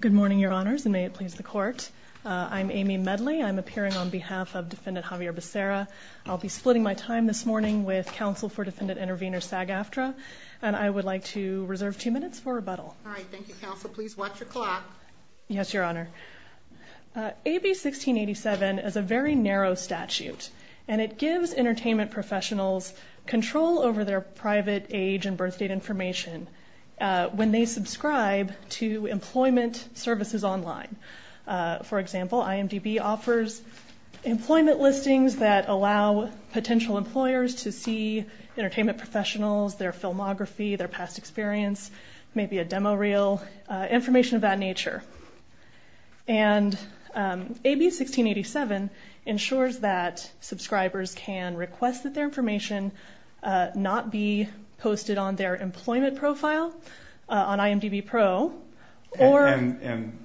Good morning, Your Honors, and may it please the Court. I'm Amy Medley. I'm appearing on behalf of Defendant Xavier Becerra. I'll be splitting my time this morning with Counsel for Defendant Intervenor Sagaftra, and I would like to reserve two minutes for rebuttal. All right. Thank you, Counsel. Please watch your clock. Yes, Your Honor. AB 1687 is a very narrow statute, and it gives entertainment professionals control over their private age and birth date information when they subscribe to employment services online. For example, IMDB offers employment listings that allow potential employers to see entertainment professionals, their filmography, their past experience, maybe a demo reel, information of that nature. And AB 1687 ensures that subscribers can request that their information not be posted on their employment profile on IMDB Pro. And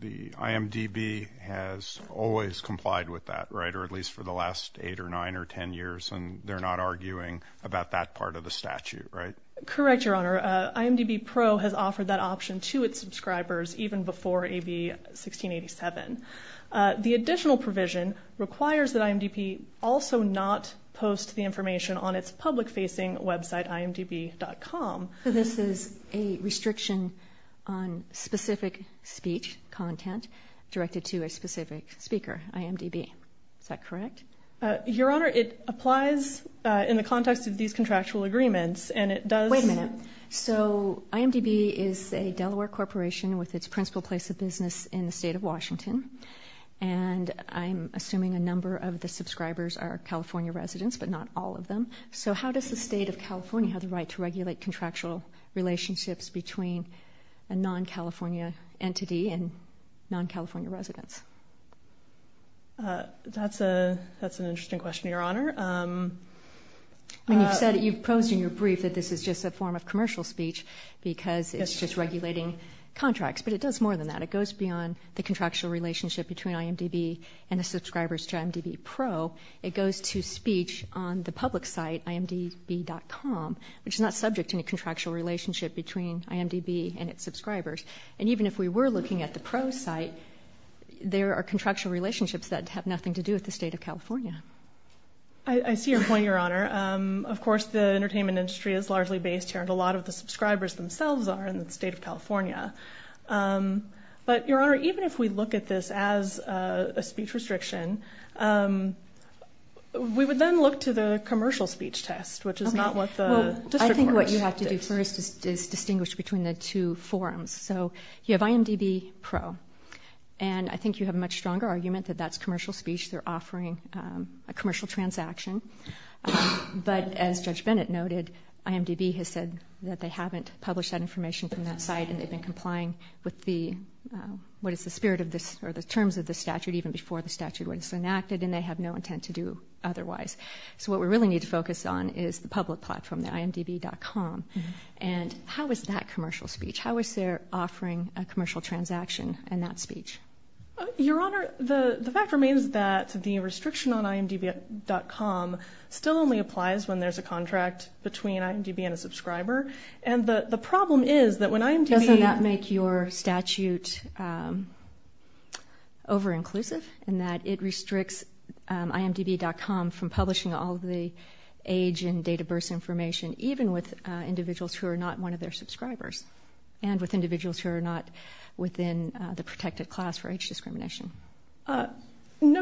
the IMDB has always complied with that, right, or at least for the last 8 or 9 or 10 years, and they're not arguing about that part of the statute, right? Correct, Your Honor. IMDB Pro has offered that option to its subscribers even before AB 1687. The additional provision requires that IMDB also not post the information on its public-facing website, imdb.com. So this is a restriction on specific speech content directed to a specific speaker, IMDB. Is that correct? Your Honor, it applies in the context of these contractual agreements, and it does... Wait a minute. So IMDB is a Delaware corporation with its principal place of business in the state of Washington, and I'm assuming a number of the subscribers are California residents, but not all of them. So how does the state of California have the right to regulate contractual relationships between a non-California entity and non-California residents? That's an interesting question, Your Honor. You've said it, you've posed in your brief that this is just a form of commercial speech because it's just regulating contracts, but it does more than that. It goes beyond the contractual relationship between IMDB and the subscribers to IMDB Pro. It goes to speech on the public site, imdb.com, which is not subject to any contractual relationship between IMDB and its subscribers. And even if we were looking at the Pro site, there are contractual relationships that have nothing to do with the state of California. I see your point, Your Honor. Of course, the entertainment industry is largely based here, and a lot of the subscribers themselves are in the state of California. But, Your Honor, even if we look at this as a speech restriction, we would then look to the commercial speech test, which is not what the district board does. I think what you have to do first is distinguish between the two forums. So you have IMDB Pro, and I think you have a much stronger argument that that's commercial speech. They're offering a commercial transaction. But as Judge Bennett noted, IMDB has said that they haven't published that information from that site, and they've been complying with the, what is the spirit of this, or the terms of the statute even before the statute was enacted, and they have no intent to do otherwise. So what we really need to focus on is the public platform, the imdb.com. And how is that commercial speech? How is their offering a commercial transaction in that speech? Your Honor, the fact remains that the restriction on imdb.com still only applies when there's a contract between IMDB and a subscriber. And the problem is that when IMDB- Doesn't that make your statute over-inclusive in that it restricts imdb.com from publishing all of the age and date of birth information, even with individuals who are not one of their subscribers, and with individuals who are not within the protected class for age discrimination? No,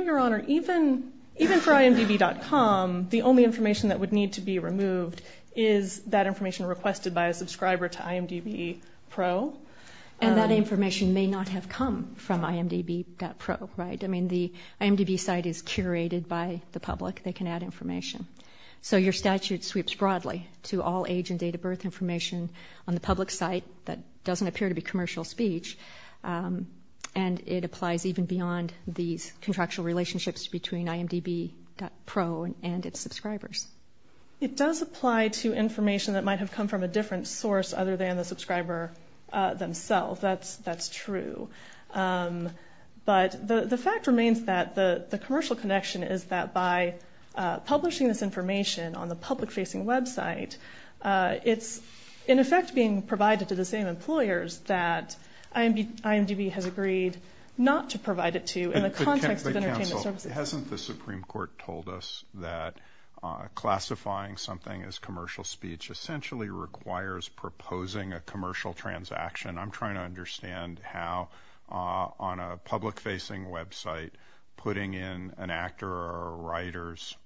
Your Honor. Even for imdb.com, the only information that would need to be removed is that information requested by a subscriber to IMDB Pro. And that information may not have come from imdb.pro, right? I mean, the IMDB site is curated by the public. They can add information. So your statute sweeps broadly to all age and date of birth information on the public site that doesn't appear to be commercial speech, and it applies even beyond these contractual relationships between imdb.pro and its subscribers. It does apply to information that might have come from a different source other than the subscriber themselves. That's true. But the fact remains that the commercial connection is that by publishing this information on the public-facing website, it's in effect being provided to the same employers that IMDB has agreed not to provide it to in the context of entertainment services. But counsel, hasn't the Supreme Court told us that classifying something as commercial speech essentially requires proposing a commercial transaction? I'm trying to understand how, on a public-facing website, putting in an actor or a writer's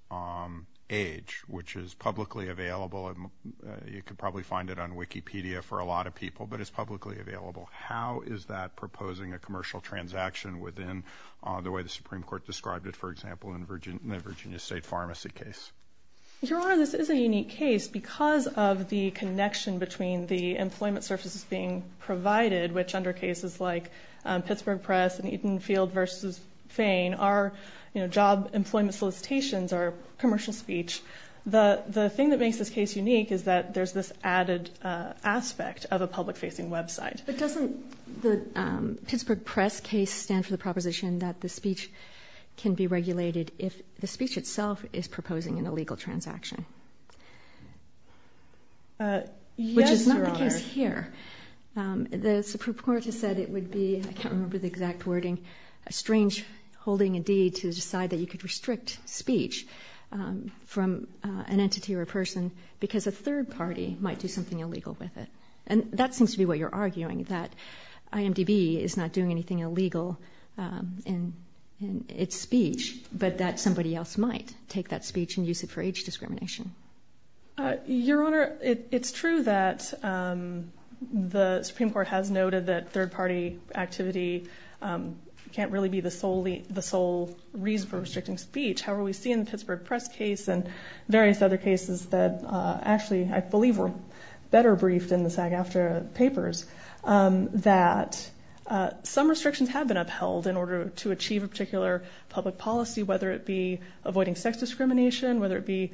age, which is publicly available, and you can probably find it on Wikipedia for a lot of people, but it's publicly available. How is that proposing a commercial transaction within the way the Supreme Court described it, for example, in the Virginia State Pharmacy case? Your Honor, this is a unique case because of the connection between the employment services being provided, which under cases like Pittsburgh Press and Eaton Field v. Fane, our job employment solicitations are commercial speech. The thing that makes this case unique is that there's this added aspect of a public-facing website. But doesn't the Pittsburgh Press case stand for the proposition that the speech can be regulated if the speech itself is proposing an illegal transaction? Yes, Your Honor. The thing is here, the Supreme Court has said it would be, I can't remember the exact wording, a strange holding indeed to decide that you could restrict speech from an entity or a person because a third party might do something illegal with it. And that seems to be what you're arguing, that IMDb is not doing anything illegal in its speech, but that somebody else might take that speech and use it for age discrimination. Your Honor, it's true that the Supreme Court has noted that third party activity can't really be the sole reason for restricting speech. However, we see in the Pittsburgh Press case and various other cases that actually, I believe were better briefed in the SAG-AFTRA papers, that some restrictions have been upheld in order to achieve a particular public policy, whether it be avoiding sex discrimination, whether it be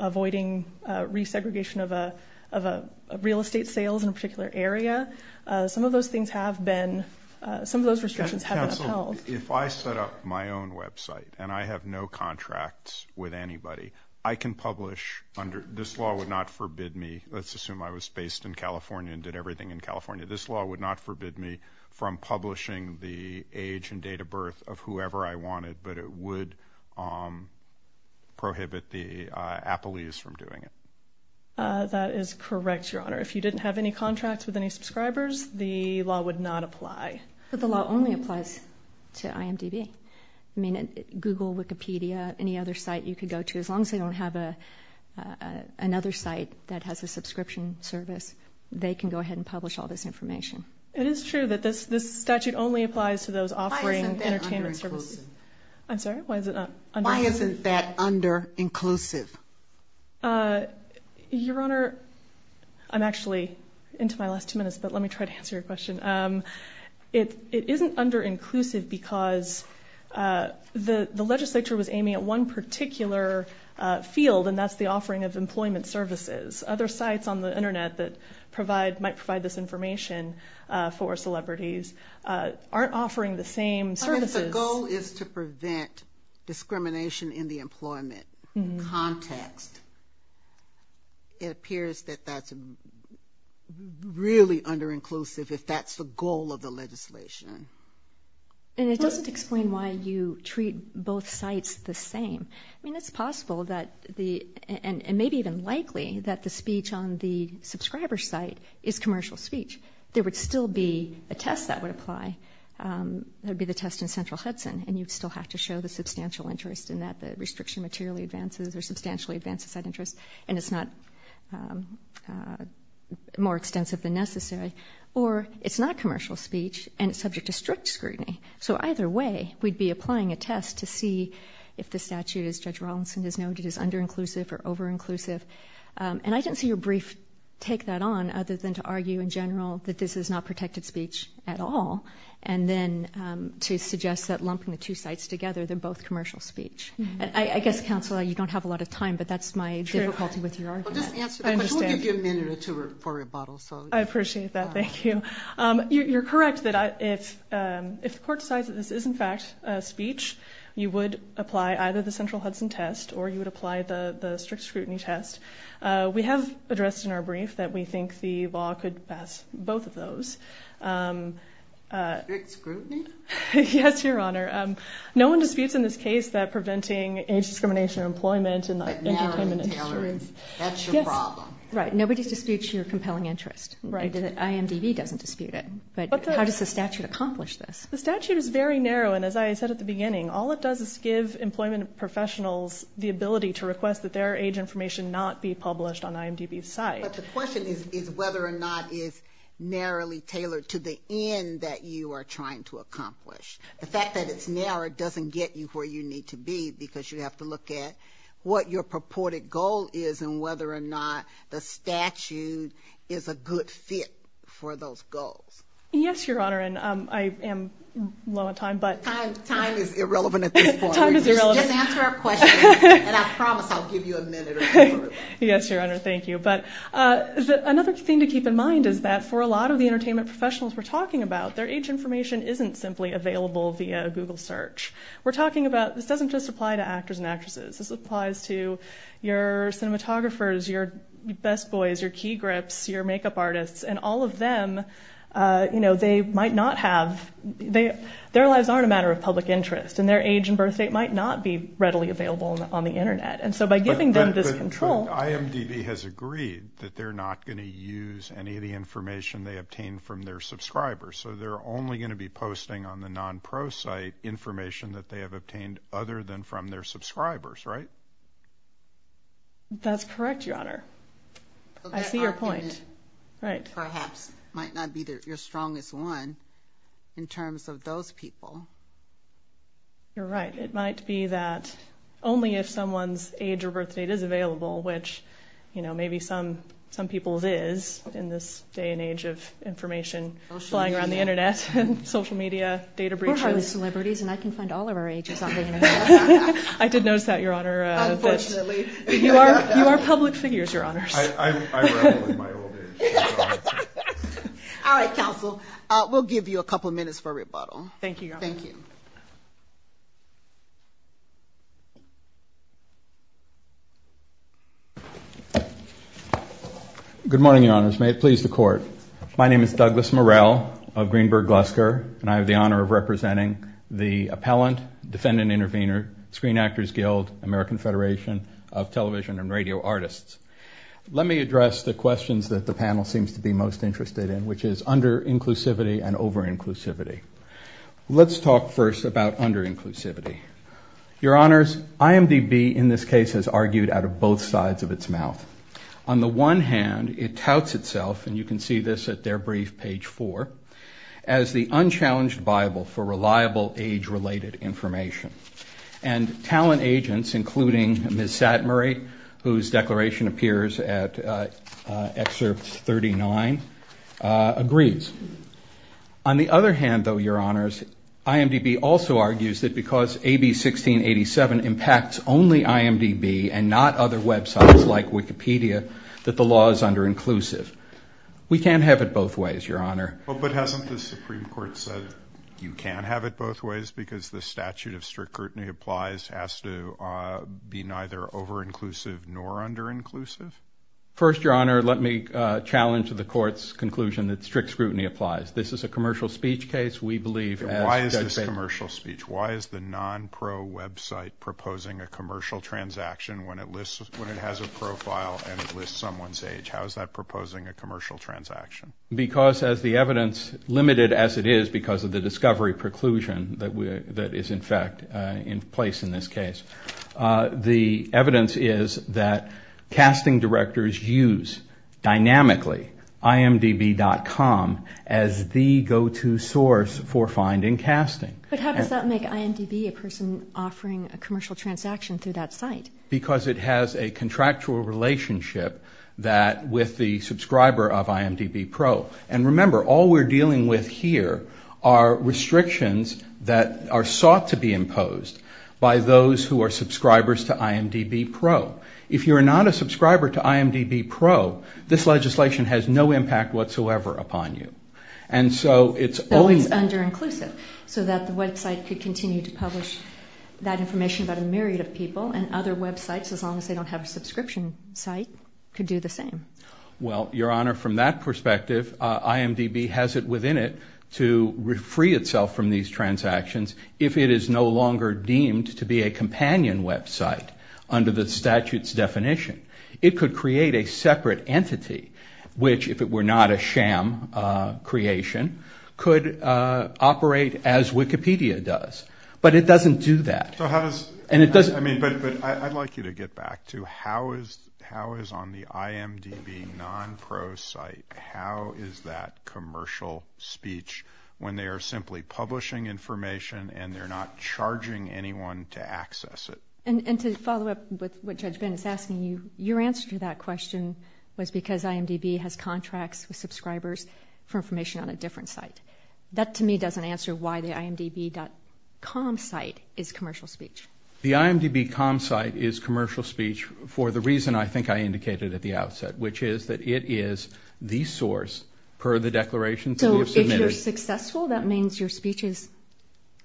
avoiding resegregation of real estate sales in a particular area. Some of those things have been, some of those restrictions have been upheld. Counsel, if I set up my own website and I have no contracts with anybody, I can publish under, this law would not forbid me, let's assume I was based in California and did everything in California, this law would not forbid me from publishing the age and date of birth of whoever I wanted, but it would prohibit the appellees from doing it. That is correct, Your Honor. If you didn't have any contracts with any subscribers, the law would not apply. But the law only applies to IMDb. I mean, Google, Wikipedia, any other site you could go to, as long as they don't have another site that has a subscription service, they can go ahead and publish all this information. It is true that this statute only applies to those offering entertainment services. I'm sorry, why is it not under- Why isn't that under-inclusive? Your Honor, I'm actually into my last two minutes, but let me try to answer your question. It isn't under-inclusive because the legislature was aiming at one particular field, and that's the offering of employment services. Other sites on the Internet that provide, might provide this information for celebrities aren't offering the same services. If the goal is to prevent discrimination in the employment context, it appears that that's really under-inclusive if that's the goal of the legislation. And it doesn't explain why you treat both sites the same. I mean, it's possible that the, and maybe even likely, that the speech on the subscriber site is commercial speech. There would still be a test that would apply. That would be the test in Central Hudson, and you'd still have to show the substantial interest in that. The restriction materially advances or substantially advances that interest, and it's not more extensive than necessary. Or it's not commercial speech, and it's subject to strict scrutiny. So either way, we'd be applying a test to see if the statute, as Judge Rawlinson has noted, is under-inclusive or over-inclusive. And I didn't see your brief take that on other than to argue in general that this is not protected speech at all, and then to suggest that lumping the two sites together, they're both commercial speech. I guess, Counselor, you don't have a lot of time, but that's my difficulty with your argument. I understand. We'll give you a minute or two for rebuttal. I appreciate that. Thank you. You're correct that if the court decides that this is, in fact, speech, you would apply either the Central Hudson test or you would apply the strict scrutiny test. We have addressed in our brief that we think the law could pass both of those. Strict scrutiny? Yes, Your Honor. No one disputes in this case that preventing age discrimination in employment and entertainment is true. That's your problem. Right. Nobody disputes your compelling interest. IMDb doesn't dispute it. But how does the statute accomplish this? The statute is very narrow, and as I said at the beginning, all it does is give employment professionals the ability to request that their age information not be published on IMDb's site. But the question is whether or not it's narrowly tailored to the end that you are trying to accomplish. The fact that it's narrow doesn't get you where you need to be, because you have to look at what your purported goal is and whether or not the statute is a good fit for those goals. Yes, Your Honor, and I am low on time. Time is irrelevant at this point. Time is irrelevant. Just answer our questions, and I promise I'll give you a minute or two. Yes, Your Honor, thank you. But another thing to keep in mind is that for a lot of the entertainment professionals we're talking about, their age information isn't simply available via Google search. We're talking about this doesn't just apply to actors and actresses. This applies to your cinematographers, your best boys, your key grips, your makeup artists, and all of them, you know, they might not have – their lives aren't a matter of public interest, and their age and birth date might not be readily available on the Internet. And so by giving them this control – But IMDb has agreed that they're not going to use any of the information they obtain from their subscribers, so they're only going to be posting on the non-pro site information that they have obtained other than from their subscribers, right? That's correct, Your Honor. I see your point. Perhaps might not be your strongest one in terms of those people. You're right. It might be that only if someone's age or birth date is available, which, you know, maybe some people's is in this day and age of information flying around the Internet, social media, data breaches. We're hardly celebrities, and I can find all of our ages on the Internet. I did notice that, Your Honor. Unfortunately. You are public figures, Your Honors. I revel in my old age. All right, counsel. We'll give you a couple of minutes for rebuttal. Thank you, Your Honor. Thank you. Good morning, Your Honors. May it please the Court. My name is Douglas Murrell of Greenberg Glusker, and I have the honor of representing the Appellant, Defendant Intervenor, Screen Actors Guild, American Federation of Television and Radio Artists. Let me address the questions that the panel seems to be most interested in, which is under-inclusivity and over-inclusivity. Let's talk first about under-inclusivity. Your Honors, IMDb in this case has argued out of both sides of its mouth. On the one hand, it touts itself, and you can see this at their brief, page 4, as the unchallenged Bible for reliable age-related information. And talent agents, including Ms. Satmarie, whose declaration appears at Excerpt 39, agrees. On the other hand, though, Your Honors, IMDb also argues that because AB 1687 impacts only IMDb and not other websites like Wikipedia, that the law is under-inclusive. We can't have it both ways, Your Honor. Well, but hasn't the Supreme Court said you can't have it both ways because the statute of strict scrutiny applies has to be neither over-inclusive nor under-inclusive? First, Your Honor, let me challenge the Court's conclusion that strict scrutiny applies. This is a commercial speech case. We believe, as Judge Baker— Why is this a commercial speech? Why is the non-pro website proposing a commercial transaction when it has a profile and it lists someone's age? How is that proposing a commercial transaction? Because as the evidence, limited as it is because of the discovery preclusion that is in fact in place in this case, the evidence is that casting directors use dynamically IMDb.com as the go-to source for finding casting. But how does that make IMDb a person offering a commercial transaction through that site? Because it has a contractual relationship with the subscriber of IMDb Pro. And remember, all we're dealing with here are restrictions that are sought to be imposed by those who are subscribers to IMDb Pro. If you're not a subscriber to IMDb Pro, this legislation has no impact whatsoever upon you. But it's under-inclusive so that the website could continue to publish that information about a myriad of people and other websites, as long as they don't have a subscription site, could do the same. Well, Your Honor, from that perspective, IMDb has it within it to free itself from these transactions if it is no longer deemed to be a companion website under the statute's definition. It could create a separate entity which, if it were not a sham creation, could operate as Wikipedia does. But it doesn't do that. But I'd like you to get back to how is on the IMDb non-pro site, how is that commercial speech when they are simply publishing information and they're not charging anyone to access it? And to follow up with what Judge Ben is asking you, your answer to that question was because IMDb has contracts with subscribers for information on a different site. That, to me, doesn't answer why the IMDb.com site is commercial speech. The IMDb.com site is commercial speech for the reason I think I indicated at the outset, which is that it is the source per the declarations we have submitted. So if you're successful, that means your speech is,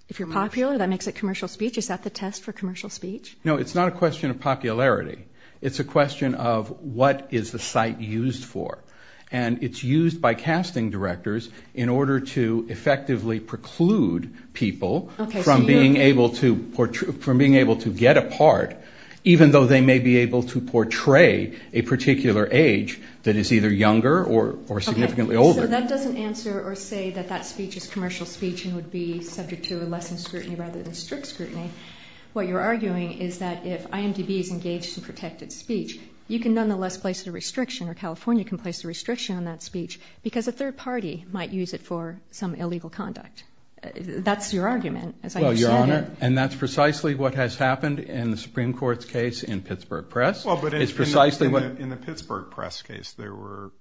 if you're popular, that makes it commercial speech. Is that the test for commercial speech? No, it's not a question of popularity. It's a question of what is the site used for. And it's used by casting directors in order to effectively preclude people from being able to get a part, even though they may be able to portray a particular age that is either younger or significantly older. So that doesn't answer or say that that speech is commercial speech and would be subject to less scrutiny rather than strict scrutiny. What you're arguing is that if IMDb is engaged in protected speech, you can nonetheless place a restriction or California can place a restriction on that speech because a third party might use it for some illegal conduct. That's your argument, as I understand it. Well, Your Honor, and that's precisely what has happened in the Supreme Court's case in Pittsburgh Press. In the Pittsburgh Press case, there were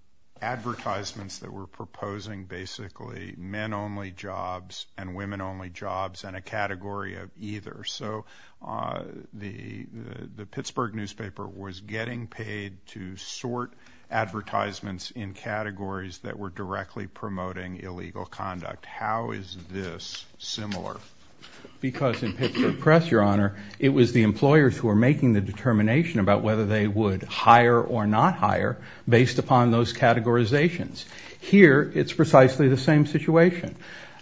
advertisements that were proposing basically men-only jobs and women-only jobs and a category of either. So the Pittsburgh newspaper was getting paid to sort advertisements in categories that were directly promoting illegal conduct. How is this similar? Because in Pittsburgh Press, Your Honor, it was the employers who were making the determination about whether they would hire or not hire based upon those categorizations. Here, it's precisely the same situation.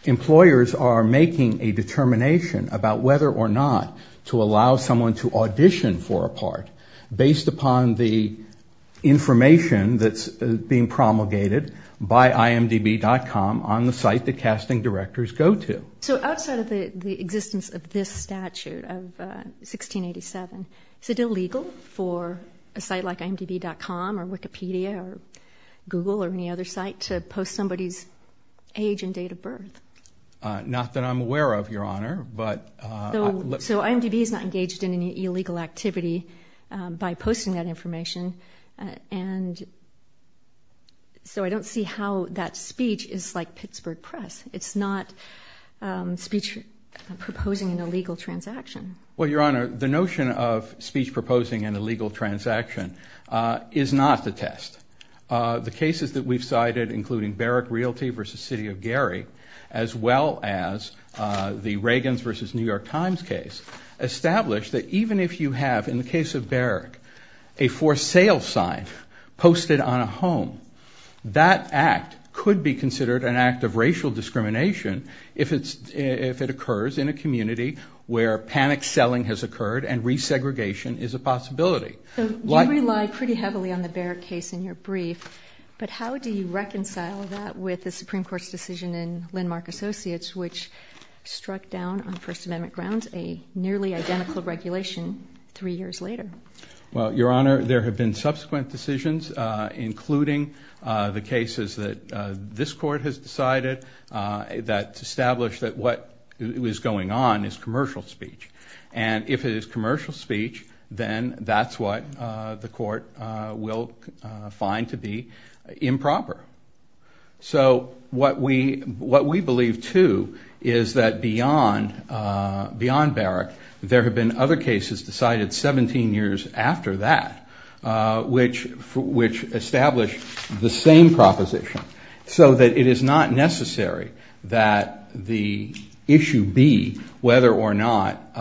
Employers are making a determination about whether or not to allow someone to audition for a part based upon the information that's being promulgated by IMDb.com on the site the casting directors go to. So outside of the existence of this statute of 1687, is it illegal for a site like IMDb.com or Wikipedia or Google or any other site to post somebody's age and date of birth? Not that I'm aware of, Your Honor. So IMDb is not engaged in any illegal activity by posting that information, and so I don't see how that speech is like Pittsburgh Press. It's not speech proposing an illegal transaction. Well, Your Honor, the notion of speech proposing an illegal transaction is not the test. The cases that we've cited, including Barrick Realty v. City of Gary, as well as the Reagans v. New York Times case, establish that even if you have, in the case of Barrick, a for sale sign posted on a home, that act could be considered an act of racial discrimination if it occurs in a community where panic selling has occurred and resegregation is a possibility. So you rely pretty heavily on the Barrick case in your brief, but how do you reconcile that with the Supreme Court's decision in Landmark Associates which struck down on First Amendment grounds a nearly identical regulation three years later? Well, Your Honor, there have been subsequent decisions, including the cases that this Court has decided that establish that what is going on is commercial speech. And if it is commercial speech, then that's what the Court will find to be improper. So what we believe, too, is that beyond Barrick, there have been other cases decided 17 years after that which establish the same proposition so that it is not necessary that the issue be whether or not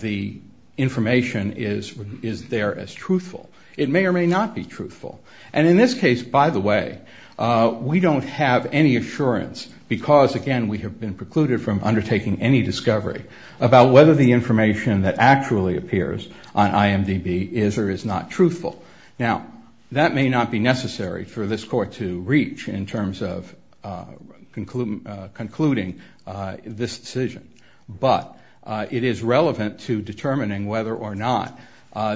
the information is there as truthful. It may or may not be truthful. And in this case, by the way, we don't have any assurance because, again, we have been precluded from undertaking any discovery about whether the information that actually appears on IMDb is or is not truthful. Now, that may not be necessary for this Court to reach in terms of concluding this decision, but it is relevant to determining whether or not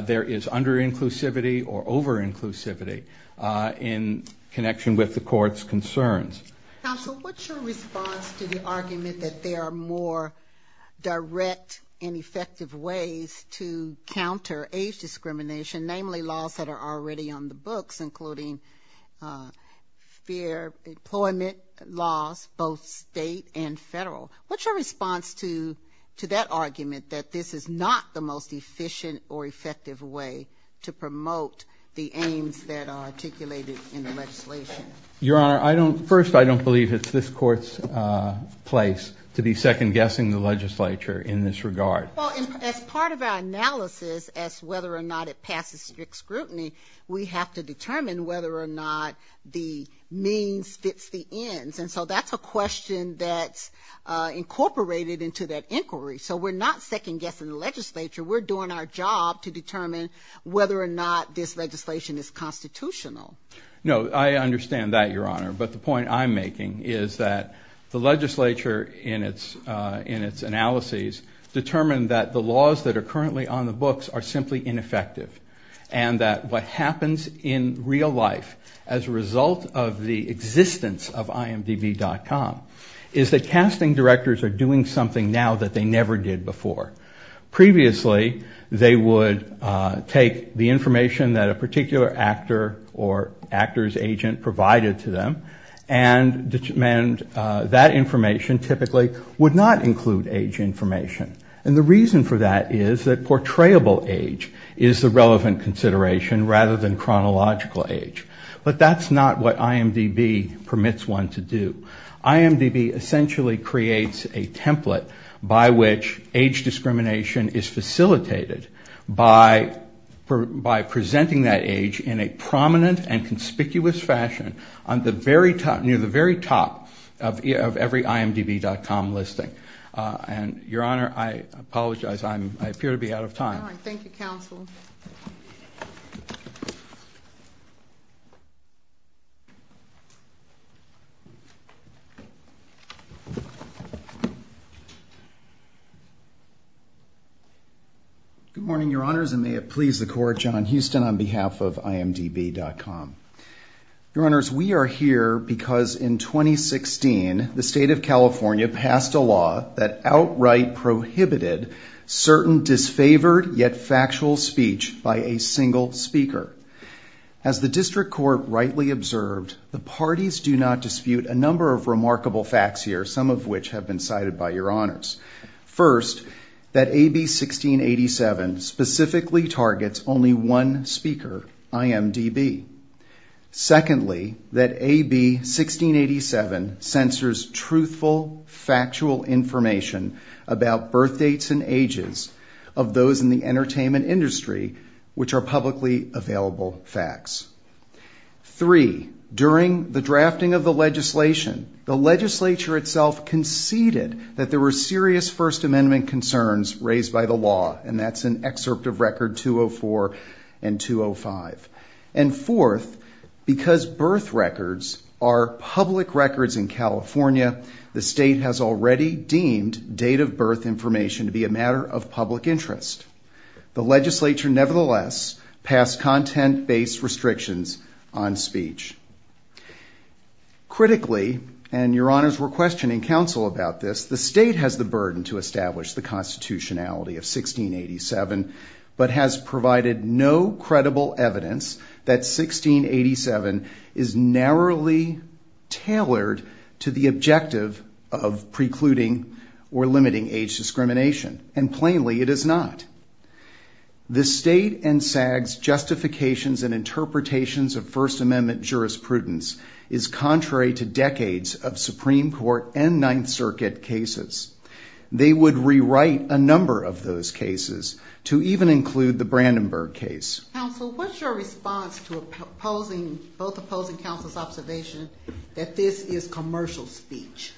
there is under-inclusivity or over-inclusivity in connection with the Court's concerns. Counsel, what's your response to the argument that there are more direct and effective ways to counter age discrimination, namely laws that are already on the books, including fair employment laws, both state and federal? What's your response to that argument that this is not the most efficient or effective way to promote the aims that are articulated in the legislation? Your Honor, first, I don't believe it's this Court's place to be second-guessing the legislature in this regard. Well, as part of our analysis as to whether or not it passes strict scrutiny, we have to determine whether or not the means fits the ends. And so that's a question that's incorporated into that inquiry. So we're not second-guessing the legislature. We're doing our job to determine whether or not this legislation is constitutional. No, I understand that, Your Honor. But the point I'm making is that the legislature, in its analyses, determined that the laws that are currently on the books are simply ineffective and that what happens in real life as a result of the existence of imdb.com is that casting directors are doing something now that they never did before. Previously, they would take the information that a particular actor or actor's agent provided to them and that information typically would not include age information. And the reason for that is that portrayable age is the relevant consideration rather than chronological age. But that's not what imdb permits one to do. imdb essentially creates a template by which age discrimination is facilitated by presenting that age in a prominent and conspicuous fashion near the very top of every imdb.com listing. And, Your Honor, I apologize. I appear to be out of time. All right. Thank you, Counsel. Good morning, Your Honors, and may it please the Court, John Huston on behalf of imdb.com. Your Honors, we are here because in 2016, the State of California passed a law that outright prohibited certain disfavored yet factual speech by a single speaker. As the District Court rightly observed, the parties do not dispute a number of remarkable facts here, some of which have been cited by Your Honors. First, that AB 1687 specifically targets only one speaker, imdb. Secondly, that AB 1687 censors truthful, factual information about birthdates and ages of those in the entertainment industry which are publicly available facts. Three, during the drafting of the legislation, the legislature itself conceded that there were serious First Amendment concerns raised by the law, and that's in Excerpt of Record 204 and 205. And fourth, because birth records are public records in California, the State has already deemed date of birth information to be a matter of public interest. The legislature, nevertheless, passed content-based restrictions on speech. Critically, and Your Honors were questioning Counsel about this, the State has the burden to establish the constitutionality of 1687, but has provided no credible evidence that 1687 is narrowly tailored to the objective of precluding or limiting age discrimination, and plainly it is not. The State and SAG's justifications and interpretations of First Amendment jurisprudence is contrary to decades of Supreme Court and Ninth Circuit cases. They would rewrite a number of those cases to even include the Brandenburg case. Counsel, what's your response to both opposing Counsel's observation that this is commercial speech?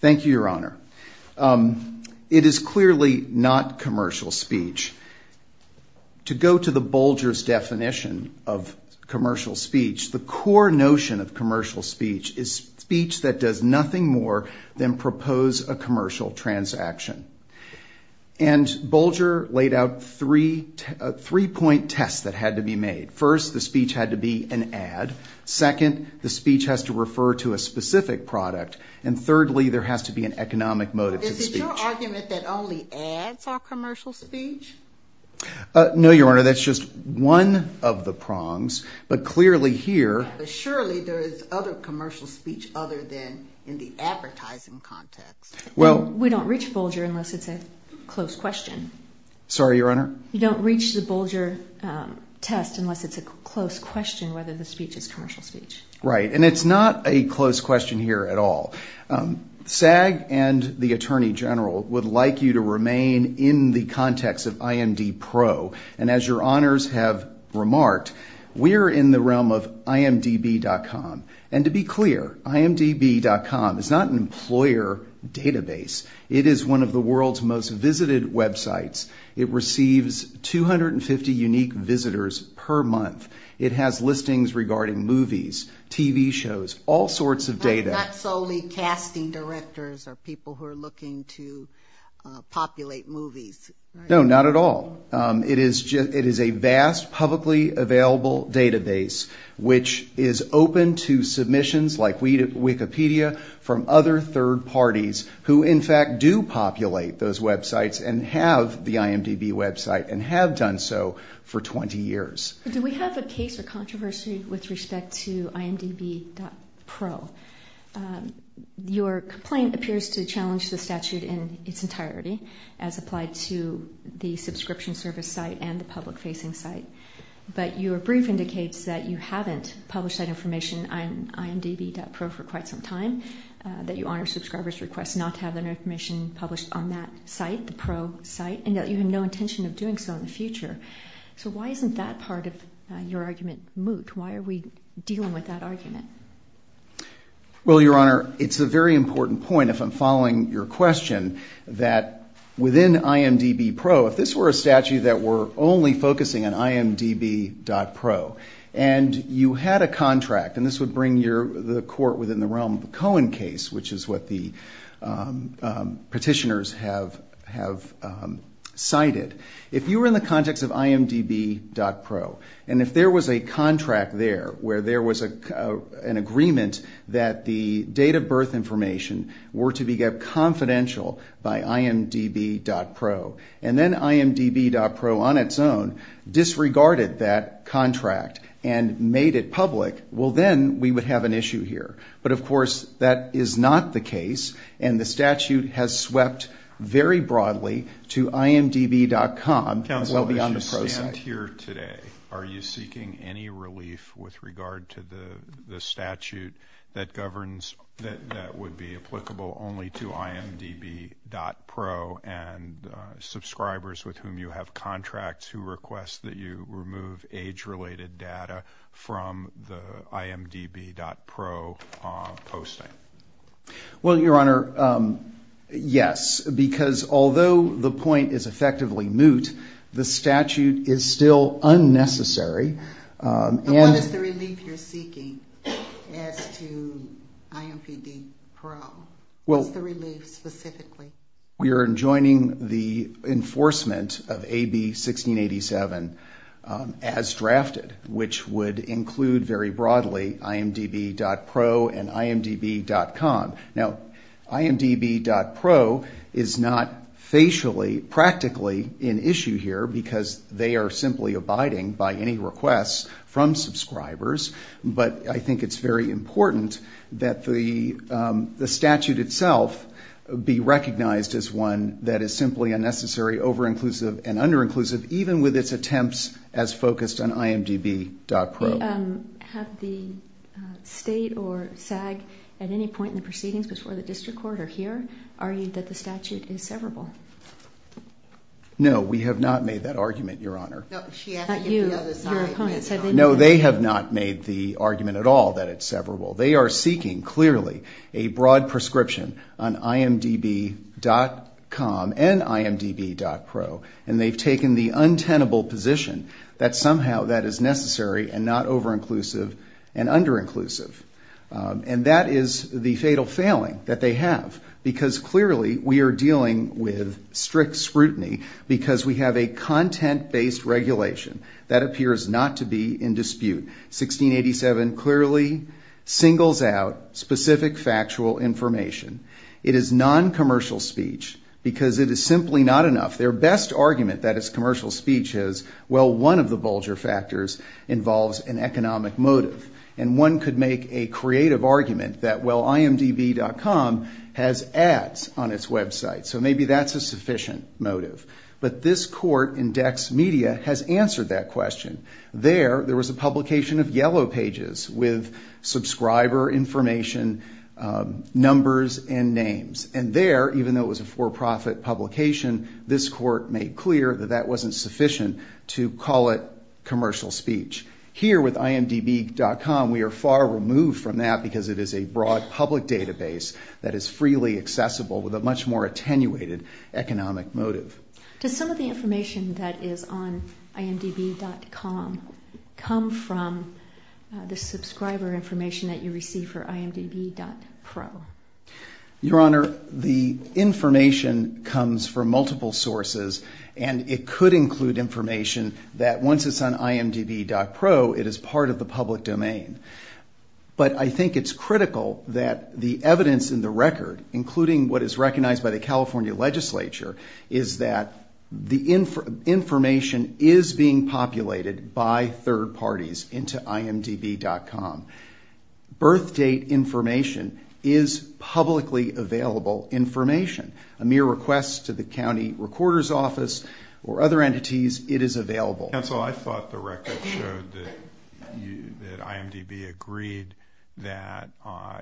Thank you, Your Honor. It is clearly not commercial speech. To go to the Bulger's definition of commercial speech, the core notion of commercial speech is speech that does nothing more than propose a commercial transaction. And Bulger laid out three point tests that had to be made. First, the speech had to be an ad. Second, the speech has to refer to a specific product. And thirdly, there has to be an economic motive to the speech. Is it your argument that only ads are commercial speech? No, Your Honor, that's just one of the prongs. But clearly here... We don't reach Bulger unless it's a close question. Sorry, Your Honor? You don't reach the Bulger test unless it's a close question whether the speech is commercial speech. Right, and it's not a close question here at all. SAG and the Attorney General would like you to remain in the context of IMDpro. And as Your Honors have remarked, we're in the realm of imdb.com. And to be clear, imdb.com is not an employer database. It is one of the world's most visited websites. It receives 250 unique visitors per month. It has listings regarding movies, TV shows, all sorts of data. Not solely casting directors or people who are looking to populate movies, right? No, not at all. It is a vast publicly available database, which is open to submissions like Wikipedia from other third parties who in fact do populate those websites and have the IMDb website and have done so for 20 years. Do we have a case or controversy with respect to imdb.pro? Your complaint appears to challenge the statute in its entirety as applied to the subscription service site and the public-facing site. But your brief indicates that you haven't published that information on imdb.pro for quite some time, that you honor subscribers' requests not to have that information published on that site, the pro site, and that you have no intention of doing so in the future. So why isn't that part of your argument moot? Why are we dealing with that argument? Well, Your Honor, it's a very important point if I'm following your question that within imdb.pro, if this were a statute that were only focusing on imdb.pro and you had a contract, and this would bring the court within the realm of the Cohen case, which is what the petitioners have cited, if you were in the context of imdb.pro and if there was a contract there where there was an agreement that the date of birth information were to be kept confidential by imdb.pro, and then imdb.pro on its own disregarded that contract and made it public, well, then we would have an issue here. But, of course, that is not the case, and the statute has swept very broadly to imdb.com well beyond the pro site. Counsel, as you stand here today, are you seeking any relief with regard to the statute that governs that would be applicable only to imdb.pro and subscribers with whom you have contracts who request that you remove age-related data from the imdb.pro posting? Well, Your Honor, yes, because although the point is effectively moot, the statute is still unnecessary. But what is the relief you're seeking as to imdb.pro? What's the relief specifically? We are enjoining the enforcement of AB 1687 as drafted, which would include very broadly imdb.pro and imdb.com. Now, imdb.pro is not facially practically an issue here because they are simply abiding by any requests from subscribers, but I think it's very important that the statute itself be recognized as one that is simply unnecessary, over-inclusive, and under-inclusive, even with its attempts as focused on imdb.pro. Have the state or SAG at any point in the proceedings before the district court or here argued that the statute is severable? No, we have not made that argument, Your Honor. No, they have not made the argument at all that it's severable. They are seeking, clearly, a broad prescription on imdb.com and imdb.pro, and they've taken the untenable position that somehow that is necessary and not over-inclusive and under-inclusive, and that is the fatal failing that they have because clearly we are dealing with strict scrutiny because we have a content-based regulation that appears not to be in dispute. 1687 clearly singles out specific factual information. It is noncommercial speech because it is simply not enough. Their best argument that it's commercial speech is, well, one of the bulger factors involves an economic motive, and one could make a creative argument that, well, imdb.com has ads on its website, so maybe that's a sufficient motive. But this court, Index Media, has answered that question. There, there was a publication of yellow pages with subscriber information, numbers, and names, and there, even though it was a for-profit publication, this court made clear that that wasn't sufficient to call it commercial speech. Here with imdb.com, we are far removed from that because it is a broad public database that is freely accessible with a much more attenuated economic motive. Does some of the information that is on imdb.com come from the subscriber information that you receive for imdb.pro? Your Honor, the information comes from multiple sources, and it could include information that, once it's on imdb.pro, it is part of the public domain. But I think it's critical that the evidence in the record, including what is recognized by the California legislature, is that the information is being populated by third parties into imdb.com. Birth date information is publicly available information. A mere request to the county recorder's office or other entities, it is available. Counsel, I thought the record showed that imdb agreed that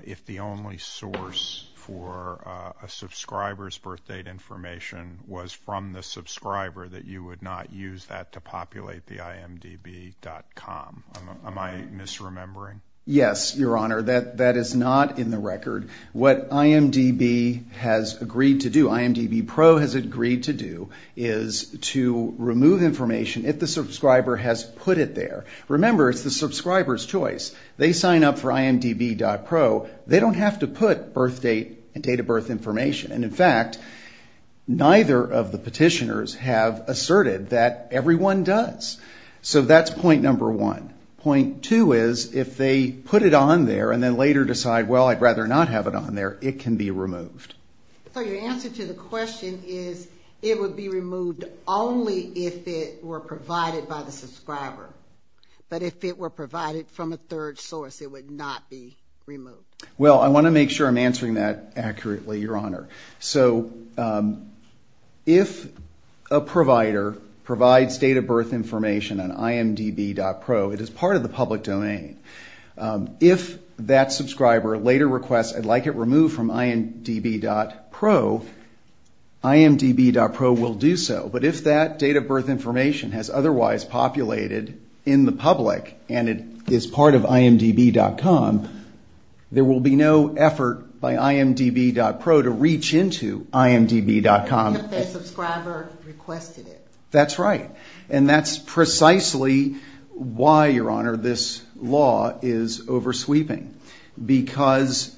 if the only source for a subscriber's birth date information was from the subscriber, that you would not use that to populate the imdb.com. Am I misremembering? What imdb has agreed to do, imdb.pro has agreed to do, is to remove information if the subscriber has put it there. Remember, it's the subscriber's choice. They sign up for imdb.pro. They don't have to put birth date and date of birth information. And, in fact, neither of the petitioners have asserted that everyone does. So that's point number one. Point two is, if they put it on there and then later decide, well, I'd rather not have it on there, it can be removed. So your answer to the question is it would be removed only if it were provided by the subscriber. But if it were provided from a third source, it would not be removed. Well, I want to make sure I'm answering that accurately, Your Honor. So if a provider provides date of birth information on imdb.pro, it is part of the public domain. If that subscriber later requests, I'd like it removed from imdb.pro, imdb.pro will do so. But if that date of birth information has otherwise populated in the public and it is part of imdb.com, there will be no effort by imdb.pro to reach into imdb.com. If the subscriber requested it. That's right. And that's precisely why, Your Honor, this law is oversweeping. Because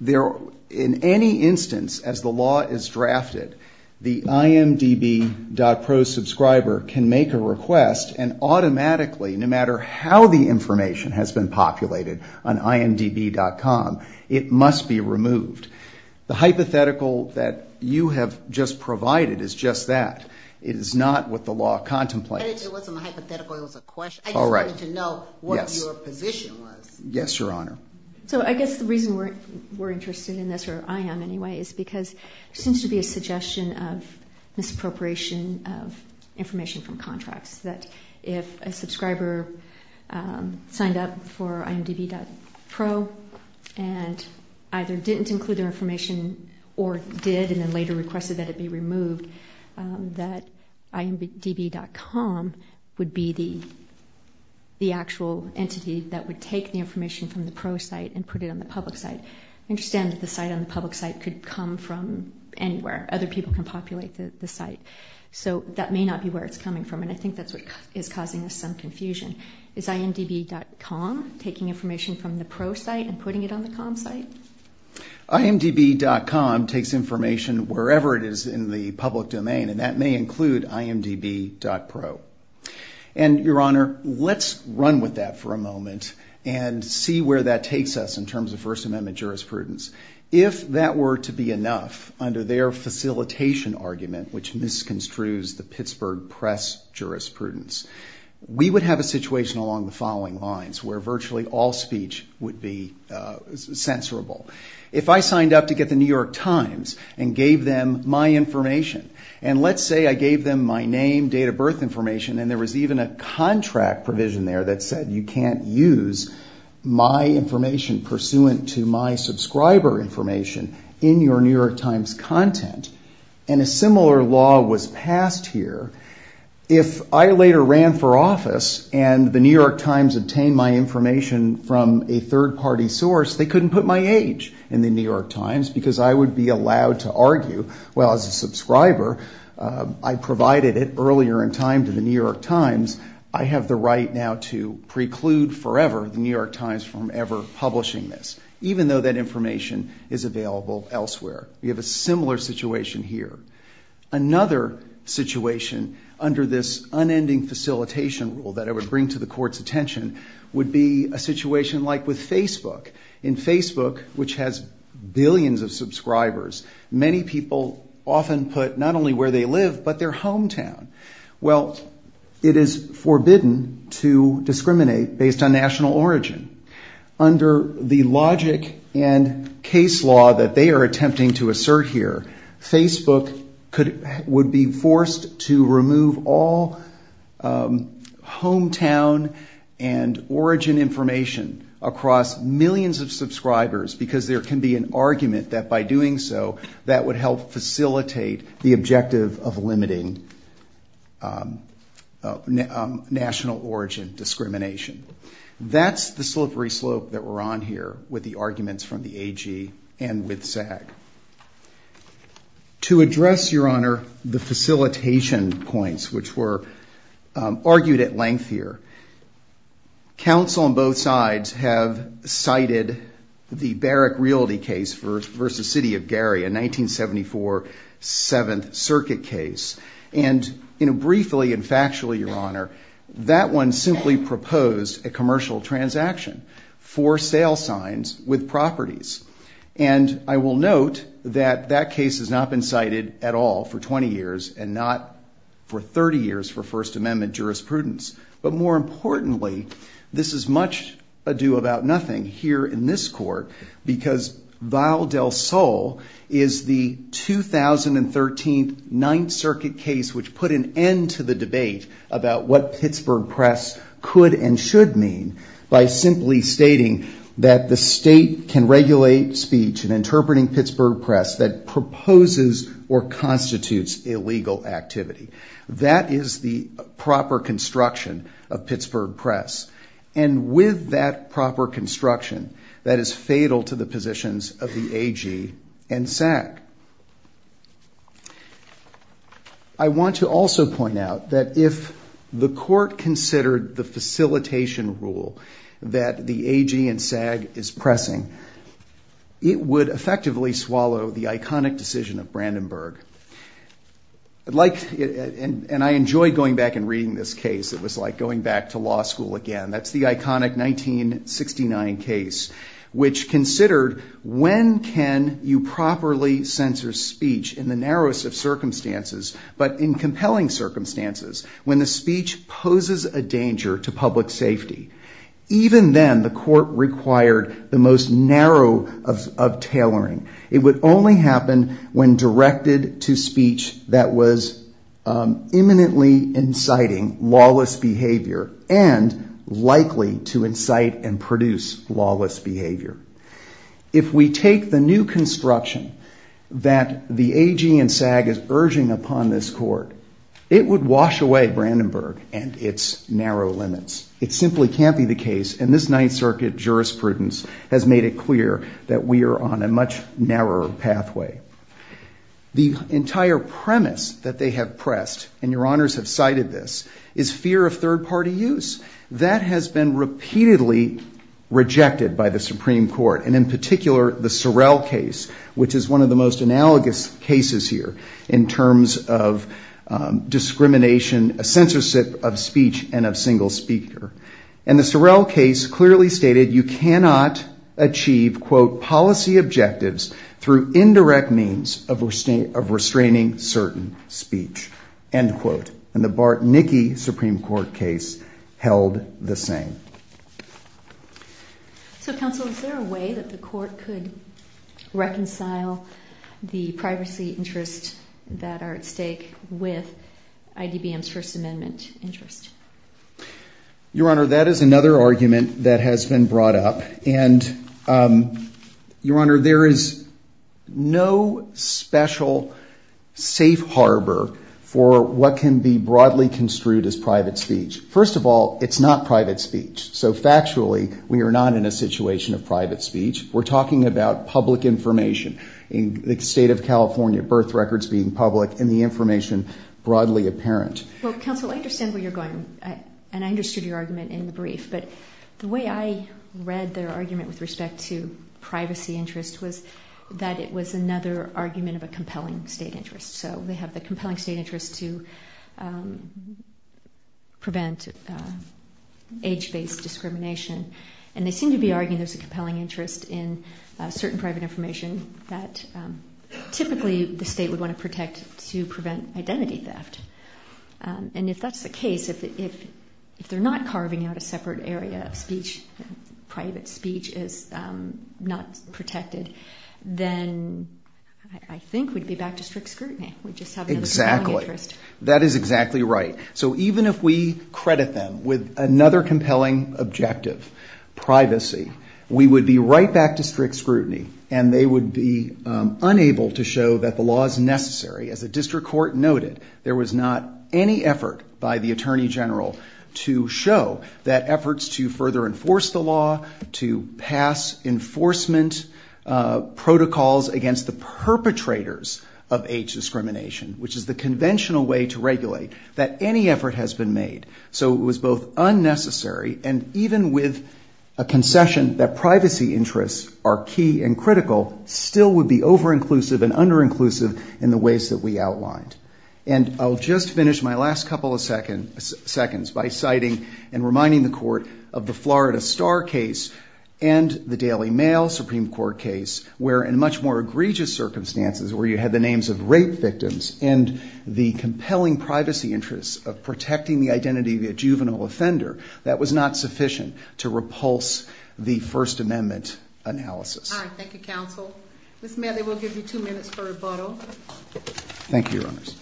in any instance, as the law is drafted, the imdb.pro subscriber can make a request and automatically, no matter how the information has been populated on imdb.com, it must be removed. The hypothetical that you have just provided is just that. It is not what the law contemplates. It wasn't a hypothetical. It was a question. I just wanted to know what your position was. Yes, Your Honor. So I guess the reason we're interested in this, or I am anyway, is because there seems to be a suggestion of misappropriation of information from contracts that if a subscriber signed up for imdb.pro and either didn't include their information or did and then later requested that it be removed, that imdb.com would be the actual entity that would take the information from the pro site and put it on the public site. I understand that the site on the public site could come from anywhere. Other people can populate the site. So that may not be where it's coming from, and I think that's what is causing us some confusion. Is imdb.com taking information from the pro site and putting it on the com site? imdb.com takes information wherever it is in the public domain, and that may include imdb.pro. And, Your Honor, let's run with that for a moment and see where that takes us in terms of First Amendment jurisprudence. If that were to be enough, under their facilitation argument, which misconstrues the Pittsburgh press jurisprudence, we would have a situation along the following lines, where virtually all speech would be censorable. If I signed up to get the New York Times and gave them my information, and let's say I gave them my name, date of birth information, and there was even a contract provision there that said you can't use my information pursuant to my subscriber information in your New York Times content, and a similar law was passed here, if I later ran for office and the New York Times obtained my information from a third-party source, they couldn't put my age in the New York Times because I would be allowed to argue, well, as a subscriber, I provided it earlier in time to the New York Times, I have the right now to preclude forever the New York Times from ever publishing this, even though that information is available elsewhere. We have a similar situation here. Another situation under this unending facilitation rule that I would bring to the Court's attention would be a situation like with Facebook. In Facebook, which has billions of subscribers, many people often put not only where they live, but their hometown. Well, it is forbidden to discriminate based on national origin. Under the logic and case law that they are attempting to assert here, Facebook would be forced to remove all hometown and origin information across millions of subscribers because there can be an argument that by doing so that would help facilitate the objective of limiting national origin discrimination. That's the slippery slope that we're on here with the arguments from the AG and with SAG. To address, Your Honor, the facilitation points, which were argued at length here, counsel on both sides have cited the Barrick Realty case versus City of Gary, a 1974 Seventh Circuit case. And briefly and factually, Your Honor, that one simply proposed a commercial transaction for sale signs with properties. And I will note that that case has not been cited at all for 20 years and not for 30 years for First Amendment jurisprudence. But more importantly, this is much ado about nothing here in this Court because Vial del Sol is the 2013 Ninth Circuit case which put an end to the debate about what Pittsburgh Press could and should mean by simply stating that the state can regulate speech and interpreting Pittsburgh Press that proposes or constitutes illegal activity. That is the proper construction of Pittsburgh Press. And with that proper construction, that is fatal to the positions of the AG and SAG. I want to also point out that if the Court considered the facilitation rule that the AG and SAG is pressing, it would effectively swallow the iconic decision of Brandenburg. And I enjoyed going back and reading this case. It was like going back to law school again. That's the iconic 1969 case, which considered when can you properly censor speech in the narrowest of circumstances but in compelling circumstances when the speech poses a danger to public safety. Even then, the Court required the most narrow of tailoring. It would only happen when directed to speech that was imminently inciting lawless behavior and likely to incite and produce lawless behavior. If we take the new construction that the AG and SAG is urging upon this Court, it would wash away Brandenburg and its narrow limits. It simply can't be the case. And this Ninth Circuit jurisprudence has made it clear that we are on a much narrower pathway. The entire premise that they have pressed, and Your Honors have cited this, is fear of third-party use. That has been repeatedly rejected by the Supreme Court, and in particular the Sorrell case, which is one of the most analogous cases here in terms of discrimination, censorship of speech, and of single speaker. And the Sorrell case clearly stated you cannot achieve quote, policy objectives through indirect means of restraining certain speech. End quote. And the Bartnicki Supreme Court case held the same. So Counsel, is there a way that the Court could reconcile the privacy interests that are at stake with IDBM's First Amendment interest? Your Honor, that is another argument that has been brought up, and Your Honor, there is no special safe harbor for what can be broadly construed as private speech. First of all, it's not private speech. So factually, we are not in a situation of private speech. We're talking about public information. In the state of California, birth records being public and the information broadly apparent. Well, Counsel, I understand where you're going, and I understood your argument in the brief, but the way I read their argument with respect to privacy interest was that it was another argument of a compelling state interest. So they have the compelling state interest to prevent age-based discrimination, and they seem to be arguing there's a compelling interest in certain private information that typically the state would want to protect to prevent identity theft. And if that's the case, if they're not carving out a separate area of speech, private speech is not protected, then I think we'd be back to strict scrutiny. We'd just have another compelling interest. Exactly. That is exactly right. So even if we credit them with another compelling objective, privacy, we would be right back to strict scrutiny, and they would be unable to show that the law is necessary. As the district court noted, there was not any effort by the attorney general to show that efforts to further enforce the law, to pass enforcement protocols against the perpetrators of age discrimination, which is the conventional way to regulate, that any effort has been made. So it was both unnecessary and even with a concession that privacy interests are key and critical, still would be over-inclusive and under-inclusive in the ways that we outlined. And I'll just finish my last couple of seconds by citing and reminding the court of the Florida Star case and the Daily Mail Supreme Court case, where in much more egregious circumstances where you had the names of rape victims and the compelling privacy interests of protecting the identity of a juvenile offender, that was not sufficient to repulse the First Amendment analysis. All right. Thank you, counsel. Ms. Medley, we'll give you two minutes for rebuttal. Thank you, Your Honors.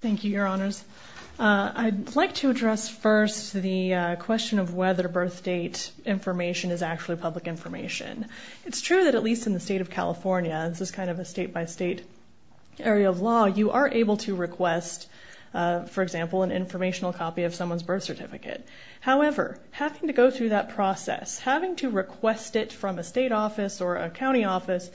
Thank you, Your Honors. I'd like to address first the question of whether birth date information is actually public information. It's true that at least in the state of California, you are able to request, for example, an informational copy of someone's birth certificate. However, having to go through that process, having to request it from a state office or a county office,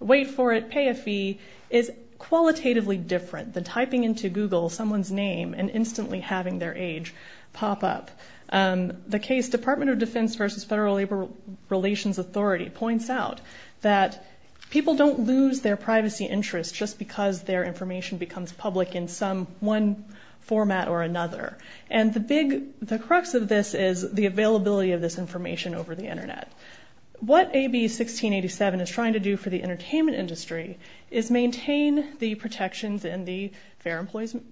wait for it, pay a fee, is qualitatively different than typing into Google someone's name and instantly having their age pop up. The case Department of Defense versus Federal Labor Relations Authority points out that people don't lose their privacy interests just because their information becomes public in some one format or another. And the big, the crux of this is the availability of this information over the Internet. What AB 1687 is trying to do for the entertainment industry is maintain the protections in the Fair Employment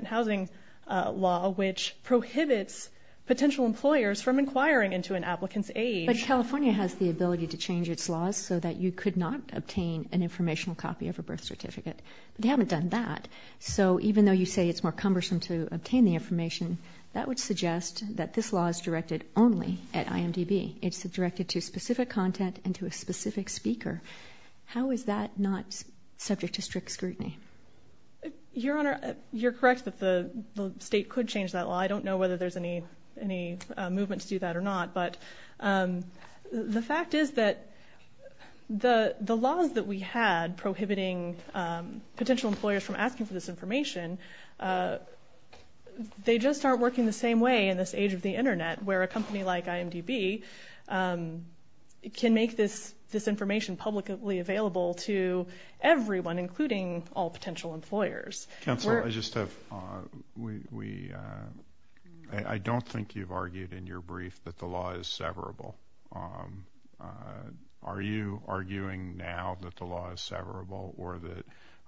and Housing Law, which prohibits potential employers from inquiring into an applicant's age. But California has the ability to change its laws so that you could not obtain an informational copy of a birth certificate. They haven't done that. So even though you say it's more cumbersome to obtain the information, that would suggest that this law is directed only at IMDb. It's directed to specific content and to a specific speaker. How is that not subject to strict scrutiny? Your Honor, you're correct that the state could change that law. I don't know whether there's any movement to do that or not. But the fact is that the laws that we had prohibiting potential employers from asking for this information, they just aren't working the same way in this age of the Internet where a company like IMDb can make this information publicly available to everyone, including all potential employers. Counsel, I just have, we, I don't think you've argued in your brief that the law is severable. Are you arguing now that the law is severable or that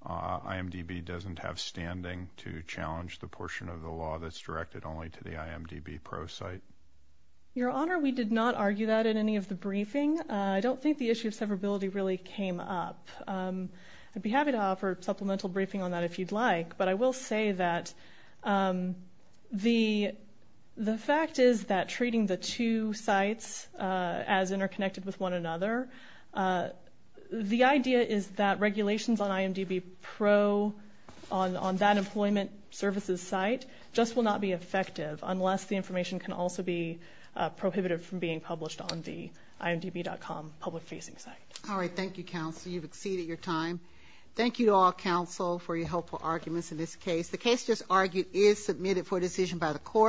IMDb doesn't have standing to challenge the portion of the law that's directed only to the IMDb pro-site? Your Honor, we did not argue that in any of the briefing. I don't think the issue of severability really came up. I'd be happy to offer a supplemental briefing on that if you'd like. But I will say that the fact is that treating the two sites as interconnected with one another, the idea is that regulations on IMDb pro, on that employment services site, just will not be effective unless the information can also be prohibited from being published on the IMDb.com public-facing site. All right, thank you, Counsel. You've exceeded your time. Thank you to all, Counsel, for your helpful arguments in this case. The case just argued is submitted for decision by the court.